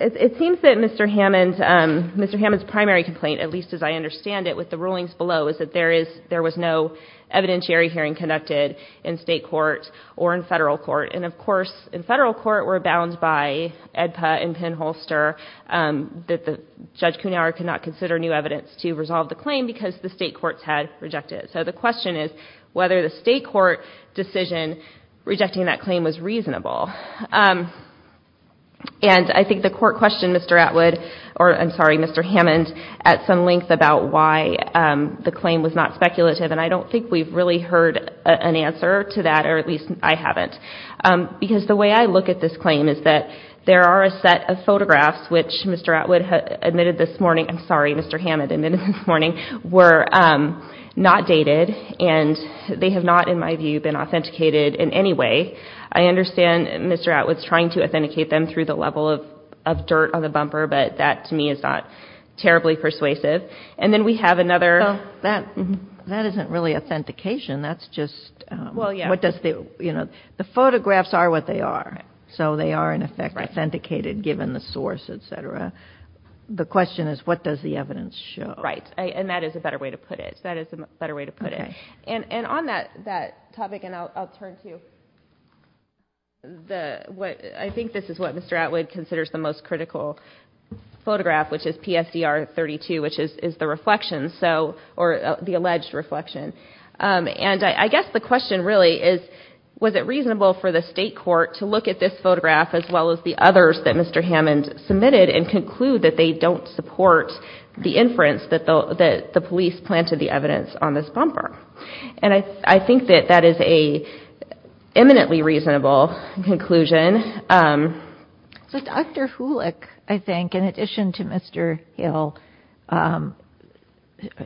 it seems that Mr. Hammond's primary complaint, at least as I understand it with the rulings below, is that there was no evidentiary hearing conducted in State court or in Federal court. And, of course, in Federal court we're bound by AEDPA and Penn-Holster that Judge Kuhnhauer could not consider new evidence to resolve the claim because the State courts had rejected it. So the question is whether the State court decision rejecting that claim was reasonable. And I think the Court questioned Mr. Atwood, or I'm sorry, Mr. Hammond, at some length about why the claim was not speculative, and I don't think we've really heard an answer to that, or at least I haven't. Because the way I look at this claim is that there are a set of photographs which Mr. Atwood admitted this morning, I'm sorry, Mr. Hammond admitted this morning, were not dated and they have not, in my view, been authenticated in any way. I understand Mr. Atwood's trying to authenticate them through the level of dirt on the bumper, but that to me is not terribly persuasive. And then we have another. Well, that isn't really authentication. That's just what does the, you know, the photographs are what they are. So they are, in effect, authenticated given the source, et cetera. The question is what does the evidence show? Right, and that is a better way to put it. That is a better way to put it. And on that topic, and I'll turn to the, I think this is what Mr. Atwood considers the most critical photograph, which is PSDR 32, which is the reflection, or the alleged reflection. And I guess the question really is was it reasonable for the state court to look at this photograph as well as the others that Mr. Hammond submitted and conclude that they don't support the inference that the police planted the evidence on this bumper? And I think that that is an eminently reasonable conclusion. So Dr. Hulick, I think, in addition to Mr. Hill,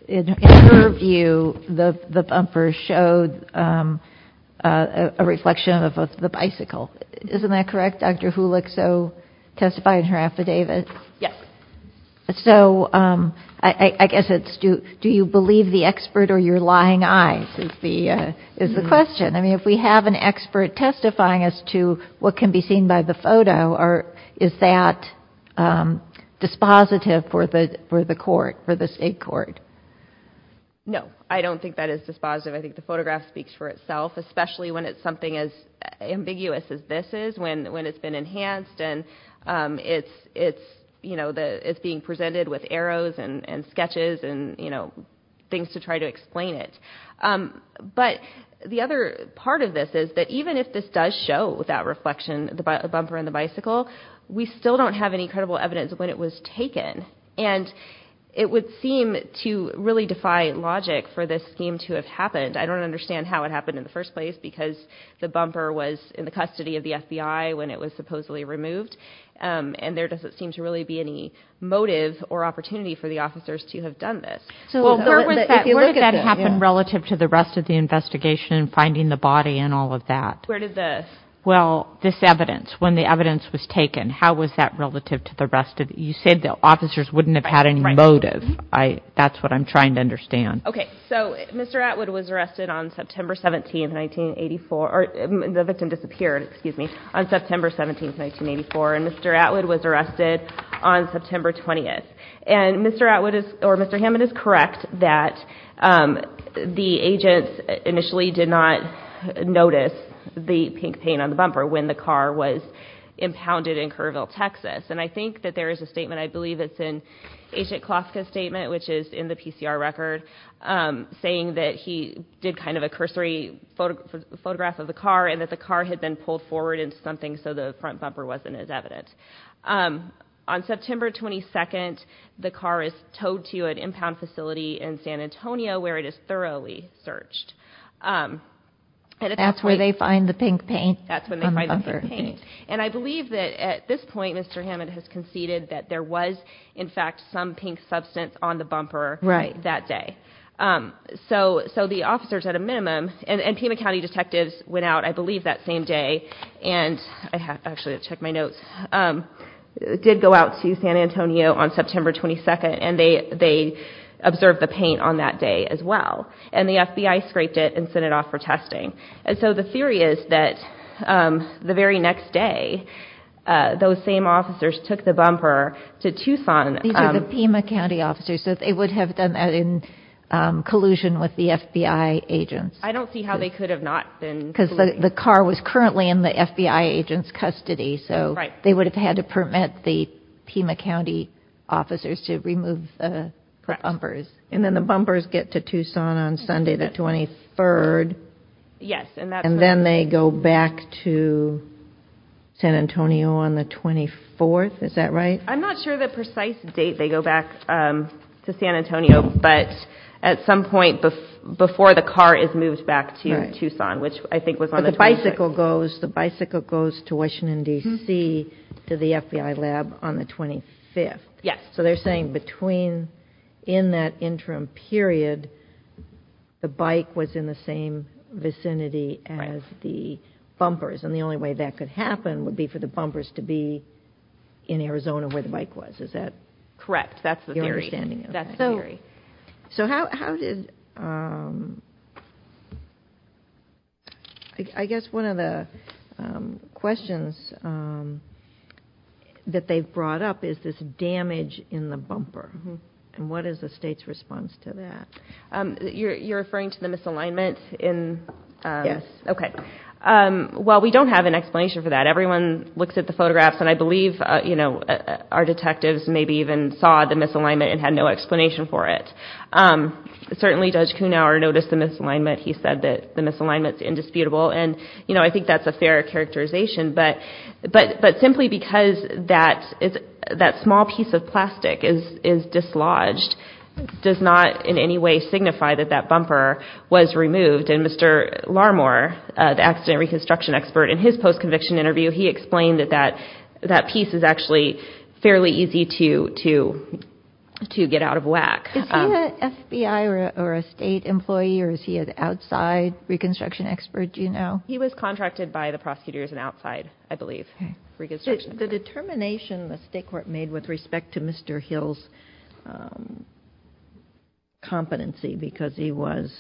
in her view, the bumper showed a reflection of the bicycle. Isn't that correct, Dr. Hulick, so testifying to her affidavit? Yes. So I guess it's do you believe the expert or your lying eyes is the question. I mean, if we have an expert testifying as to what can be seen by the photo, is that dispositive for the court, for the state court? No, I don't think that is dispositive. I think the photograph speaks for itself, especially when it's something as ambiguous as this is, when it's been enhanced and it's being presented with arrows and sketches and things to try to explain it. But the other part of this is that even if this does show that reflection, the bumper and the bicycle, we still don't have any credible evidence of when it was taken. And it would seem to really defy logic for this scheme to have happened. I don't understand how it happened in the first place, because the bumper was in the custody of the FBI when it was supposedly removed, and there doesn't seem to really be any motive or opportunity for the officers to have done this. Where did that happen relative to the rest of the investigation, finding the body and all of that? Where did this? Well, this evidence, when the evidence was taken, how was that relative to the rest of it? You said the officers wouldn't have had any motive. That's what I'm trying to understand. Okay, so Mr. Atwood was arrested on September 17, 1984, or the victim disappeared, excuse me, on September 17, 1984, and Mr. Atwood was arrested on September 20th. And Mr. Atwood or Mr. Hammond is correct that the agents initially did not notice the pink paint on the bumper when the car was impounded in Kerrville, Texas. And I think that there is a statement, I believe it's in Agent Kloska's statement, which is in the PCR record, saying that he did kind of a cursory photograph of the car and that the car had been pulled forward into something so the front bumper wasn't as evidence. On September 22nd, the car is towed to an impound facility in San Antonio where it is thoroughly searched. That's where they find the pink paint on the bumper. And I believe that at this point Mr. Hammond has conceded that there was, in fact, some pink substance on the bumper that day. So the officers, at a minimum, and Pima County detectives went out, I believe that same day, and I actually have to check my notes, did go out to San Antonio on September 22nd and they observed the paint on that day as well. And the FBI scraped it and sent it off for testing. And so the theory is that the very next day, those same officers took the bumper to Tucson. These are the Pima County officers, so they would have done that in collusion with the FBI agents. I don't see how they could have not been. Because the car was currently in the FBI agent's custody, so they would have had to permit the Pima County officers to remove the bumpers. And then the bumpers get to Tucson on Sunday the 23rd. Yes. And then they go back to San Antonio on the 24th, is that right? I'm not sure the precise date they go back to San Antonio, but at some point before the car is moved back to Tucson, which I think was on the 26th. But the bicycle goes to Washington, D.C., to the FBI lab on the 25th. Yes. So they're saying between, in that interim period, the bike was in the same vicinity as the bumpers. And the only way that could happen would be for the bumpers to be in Arizona where the bike was. Is that your understanding of that? Yes, I agree. So how did—I guess one of the questions that they've brought up is this damage in the bumper. And what is the state's response to that? You're referring to the misalignment in— Yes. Okay. Well, we don't have an explanation for that. Everyone looks at the photographs, and I believe our detectives maybe even saw the misalignment and had no explanation for it. Certainly, Judge Kuhnhauer noticed the misalignment. He said that the misalignment's indisputable. And, you know, I think that's a fair characterization. But simply because that small piece of plastic is dislodged does not in any way signify that that bumper was removed. And Mr. Larmore, the accident reconstruction expert, in his post-conviction interview, he explained that that piece is actually fairly easy to get out of whack. Is he an FBI or a state employee, or is he an outside reconstruction expert, do you know? He was contracted by the prosecutors and outside, I believe, reconstruction. The determination the state court made with respect to Mr. Hill's competency, because he was,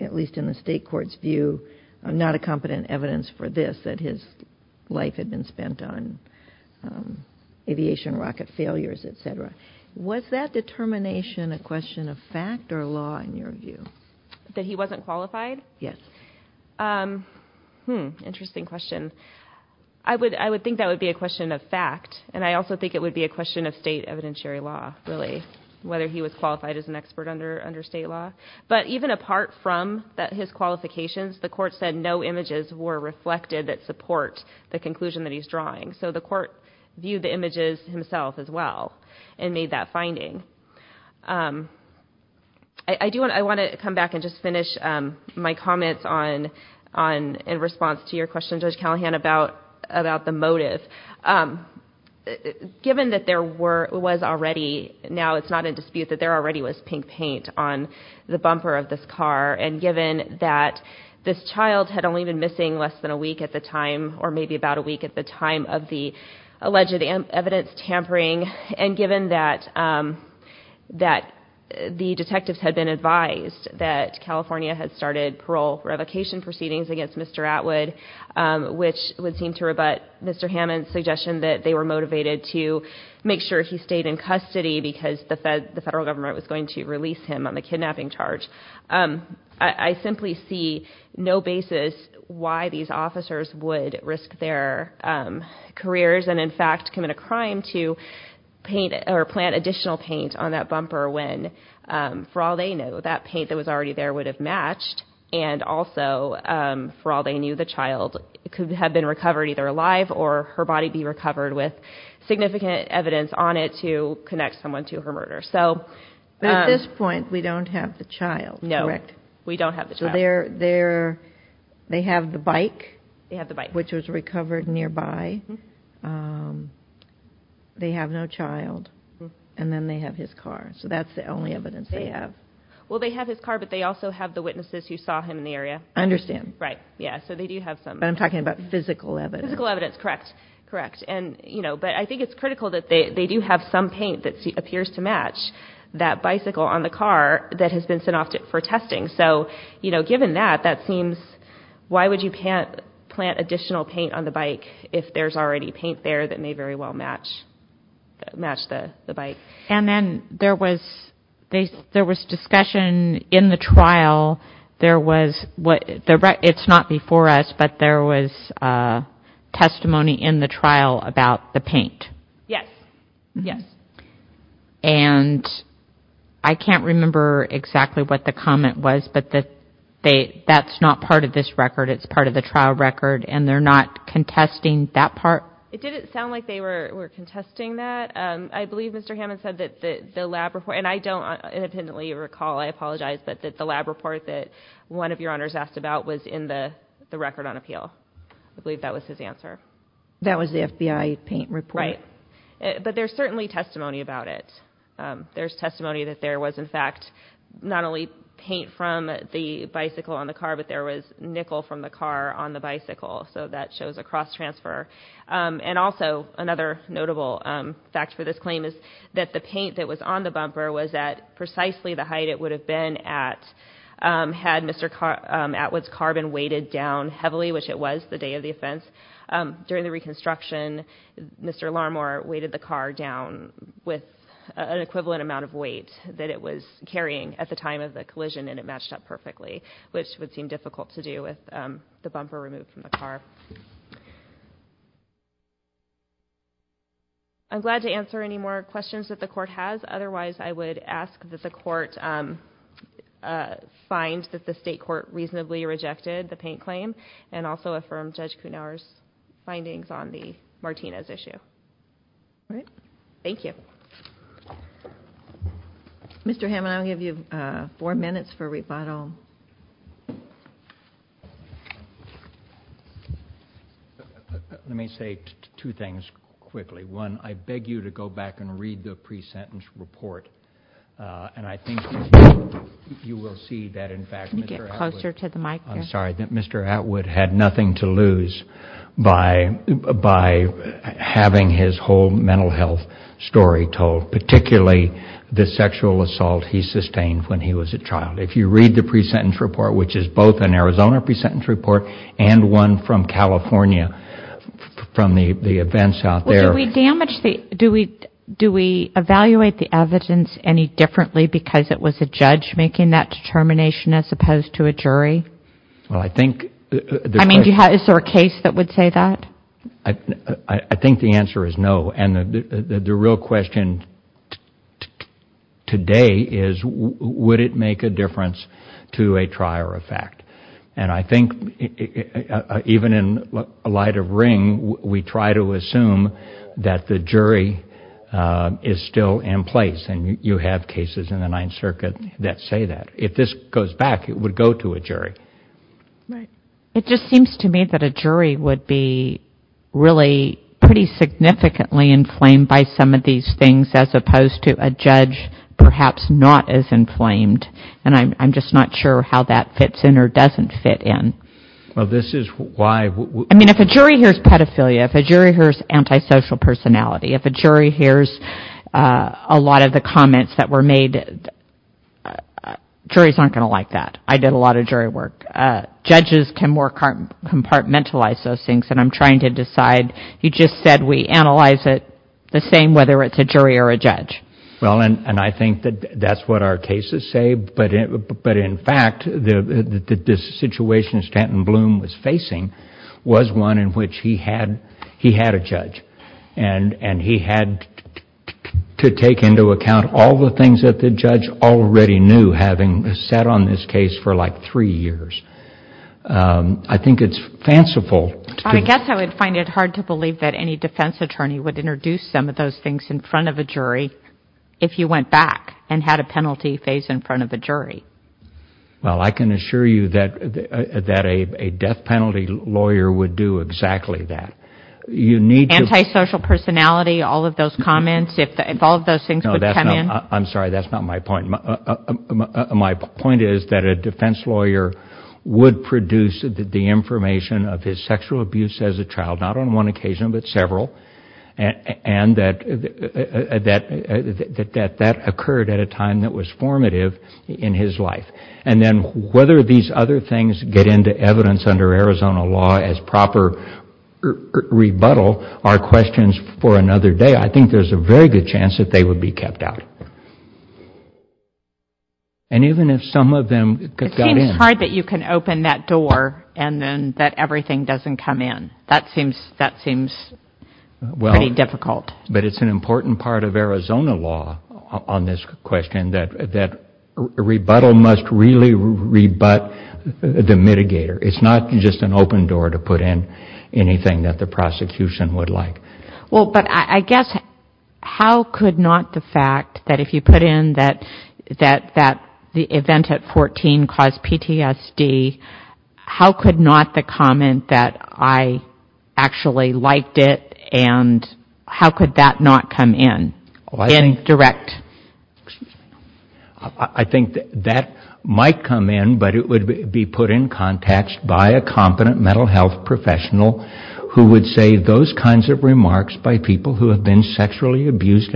at least in the state court's view, not a competent evidence for this, that his life had been spent on aviation rocket failures, et cetera. Was that determination a question of fact or law, in your view? That he wasn't qualified? Yes. Hmm, interesting question. I would think that would be a question of fact, and I also think it would be a question of state evidentiary law, really, whether he was qualified as an expert under state law. But even apart from his qualifications, the court said no images were reflected that support the conclusion that he's drawing. So the court viewed the images himself as well and made that finding. I want to come back and just finish my comments in response to your question, Judge Callahan, about the motive. Given that there was already, now it's not in dispute, that there already was pink paint on the bumper of this car, and given that this child had only been missing less than a week at the time, or maybe about a week at the time of the alleged evidence tampering, and given that the detectives had been advised that California had started parole revocation proceedings against Mr. Atwood, which would seem to rebut Mr. Hammond's suggestion that they were motivated to make sure he stayed in custody because the federal government was going to release him on the kidnapping charge, I simply see no basis why these officers would risk their careers and, in fact, commit a crime to paint or plant additional paint on that bumper when, for all they know, that paint that was already there would have matched. And also, for all they knew, the child could have been recovered either alive or her body be recovered with significant evidence on it to connect someone to her murder. But at this point, we don't have the child, correct? No, we don't have the child. So they have the bike, which was recovered nearby. They have no child. And then they have his car. So that's the only evidence they have. Well, they have his car, but they also have the witnesses who saw him in the area. I understand. Right. Yeah, so they do have some. But I'm talking about physical evidence. Physical evidence, correct. Correct. And, you know, but I think it's critical that they do have some paint that appears to match that bicycle on the car that has been sent off for testing. So, you know, given that, that seems why would you plant additional paint on the bike if there's already paint there that may very well match the bike? And then there was discussion in the trial, there was, it's not before us, but there was testimony in the trial about the paint. Yes. Yes. And I can't remember exactly what the comment was, but that's not part of this record, it's part of the trial record, and they're not contesting that part? It didn't sound like they were contesting that. I believe Mr. Hammond said that the lab report, and I don't independently recall, I apologize, but that the lab report that one of your honors asked about was in the record on appeal. I believe that was his answer. That was the FBI paint report. Right. But there's certainly testimony about it. There's testimony that there was, in fact, not only paint from the bicycle on the car, but there was nickel from the car on the bicycle. So that shows a cross transfer. And also another notable fact for this claim is that the paint that was on the bumper was at precisely the height it would have been had Mr. Atwood's car been weighted down heavily, which it was the day of the offense. During the reconstruction, Mr. Larmor weighted the car down with an equivalent amount of weight that it was carrying at the time of the collision, and it matched up perfectly, which would seem difficult to do with the bumper removed from the car. I'm glad to answer any more questions that the Court has. Otherwise, I would ask that the Court find that the State Court reasonably rejected the paint claim and also affirm Judge Kuhnhauer's findings on the Martinez issue. All right. Thank you. Mr. Hammond, I'll give you four minutes for rebuttal. Let me say two things quickly. One, I beg you to go back and read the pre-sentence report, and I think you will see that, in fact, Mr. Atwood had nothing to lose by having his whole mental health story told, particularly the sexual assault he sustained when he was a child. If you read the pre-sentence report, which is both an Arizona pre-sentence report and one from California from the events out there. Do we evaluate the evidence any differently because it was a judge making that determination as opposed to a jury? Well, I think... I mean, is there a case that would say that? I think the answer is no. And the real question today is would it make a difference to a trier of fact? And I think even in light of Ring, we try to assume that the jury is still in place, and you have cases in the Ninth Circuit that say that. If this goes back, it would go to a jury. Right. It just seems to me that a jury would be really pretty significantly inflamed by some of these things as opposed to a judge perhaps not as inflamed, and I'm just not sure how that fits in or doesn't fit in. Well, this is why... I mean, if a jury hears pedophilia, if a jury hears antisocial personality, if a jury hears a lot of the comments that were made, juries aren't going to like that. I did a lot of jury work. Judges can more compartmentalize those things, and I'm trying to decide. You just said we analyze it the same whether it's a jury or a judge. Well, and I think that that's what our cases say, but in fact the situation Stanton Bloom was facing was one in which he had a judge, and he had to take into account all the things that the judge already knew having sat on this case for like three years. I think it's fanciful. I guess I would find it hard to believe that any defense attorney would introduce some of those things in front of a jury if you went back and had a penalty phase in front of a jury. Well, I can assure you that a death penalty lawyer would do exactly that. Antisocial personality, all of those comments, if all of those things would come in. No, I'm sorry. That's not my point. My point is that a defense lawyer would produce the information of his sexual abuse as a child, not on one occasion but several, and that that occurred at a time that was formative in his life. And then whether these other things get into evidence under Arizona law as proper rebuttal are questions for another day. I think there's a very good chance that they would be kept out. And even if some of them got in. It seems hard that you can open that door and then that everything doesn't come in. That seems pretty difficult. But it's an important part of Arizona law on this question that rebuttal must really rebut the mitigator. It's not just an open door to put in anything that the prosecution would like. Well, but I guess how could not the fact that if you put in that the event at 14 caused PTSD, how could not the comment that I actually liked it and how could that not come in? In direct. I think that might come in, but it would be put in context by a competent mental health professional who would say those kinds of remarks by people who have been sexually abused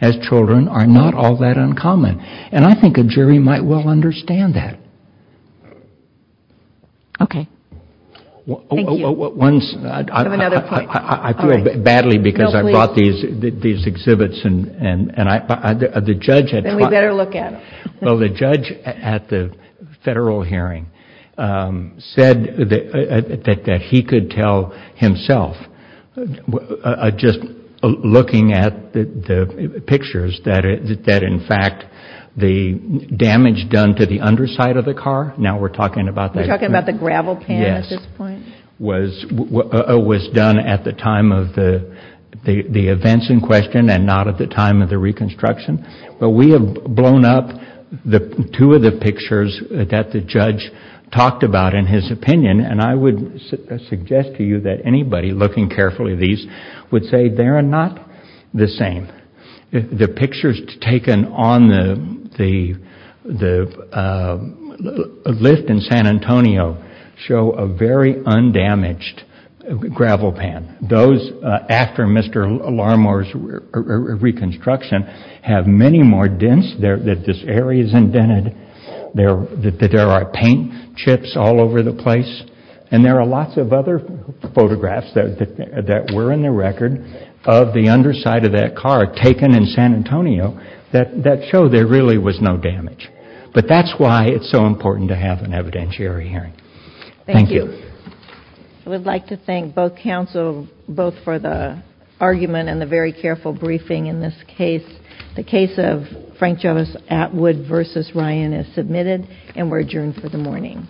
as children are not all that uncommon. And I think a jury might well understand that. Okay. Thank you. I have another point. I feel badly because I brought these exhibits. Then we better look at them. Well, the judge at the federal hearing said that he could tell himself, just looking at the pictures, that in fact the damage done to the underside of the car, now we're talking about that. We're talking about the gravel pan at this point. Yes. Was done at the time of the events in question and not at the time of the reconstruction. But we have blown up two of the pictures that the judge talked about in his opinion, and I would suggest to you that anybody looking carefully at these would say they're not the same. The pictures taken on the lift in San Antonio show a very undamaged gravel pan. Those after Mr. Larmore's reconstruction have many more dents. This area is indented. There are paint chips all over the place. And there are lots of other photographs that were in the record of the underside of that car taken in San Antonio that show there really was no damage. But that's why it's so important to have an evidentiary hearing. Thank you. Thank you. I would like to thank both counsel, both for the argument and the very careful briefing in this case. The case of Frank Jealous at Wood v. Ryan is submitted and we're adjourned for the morning.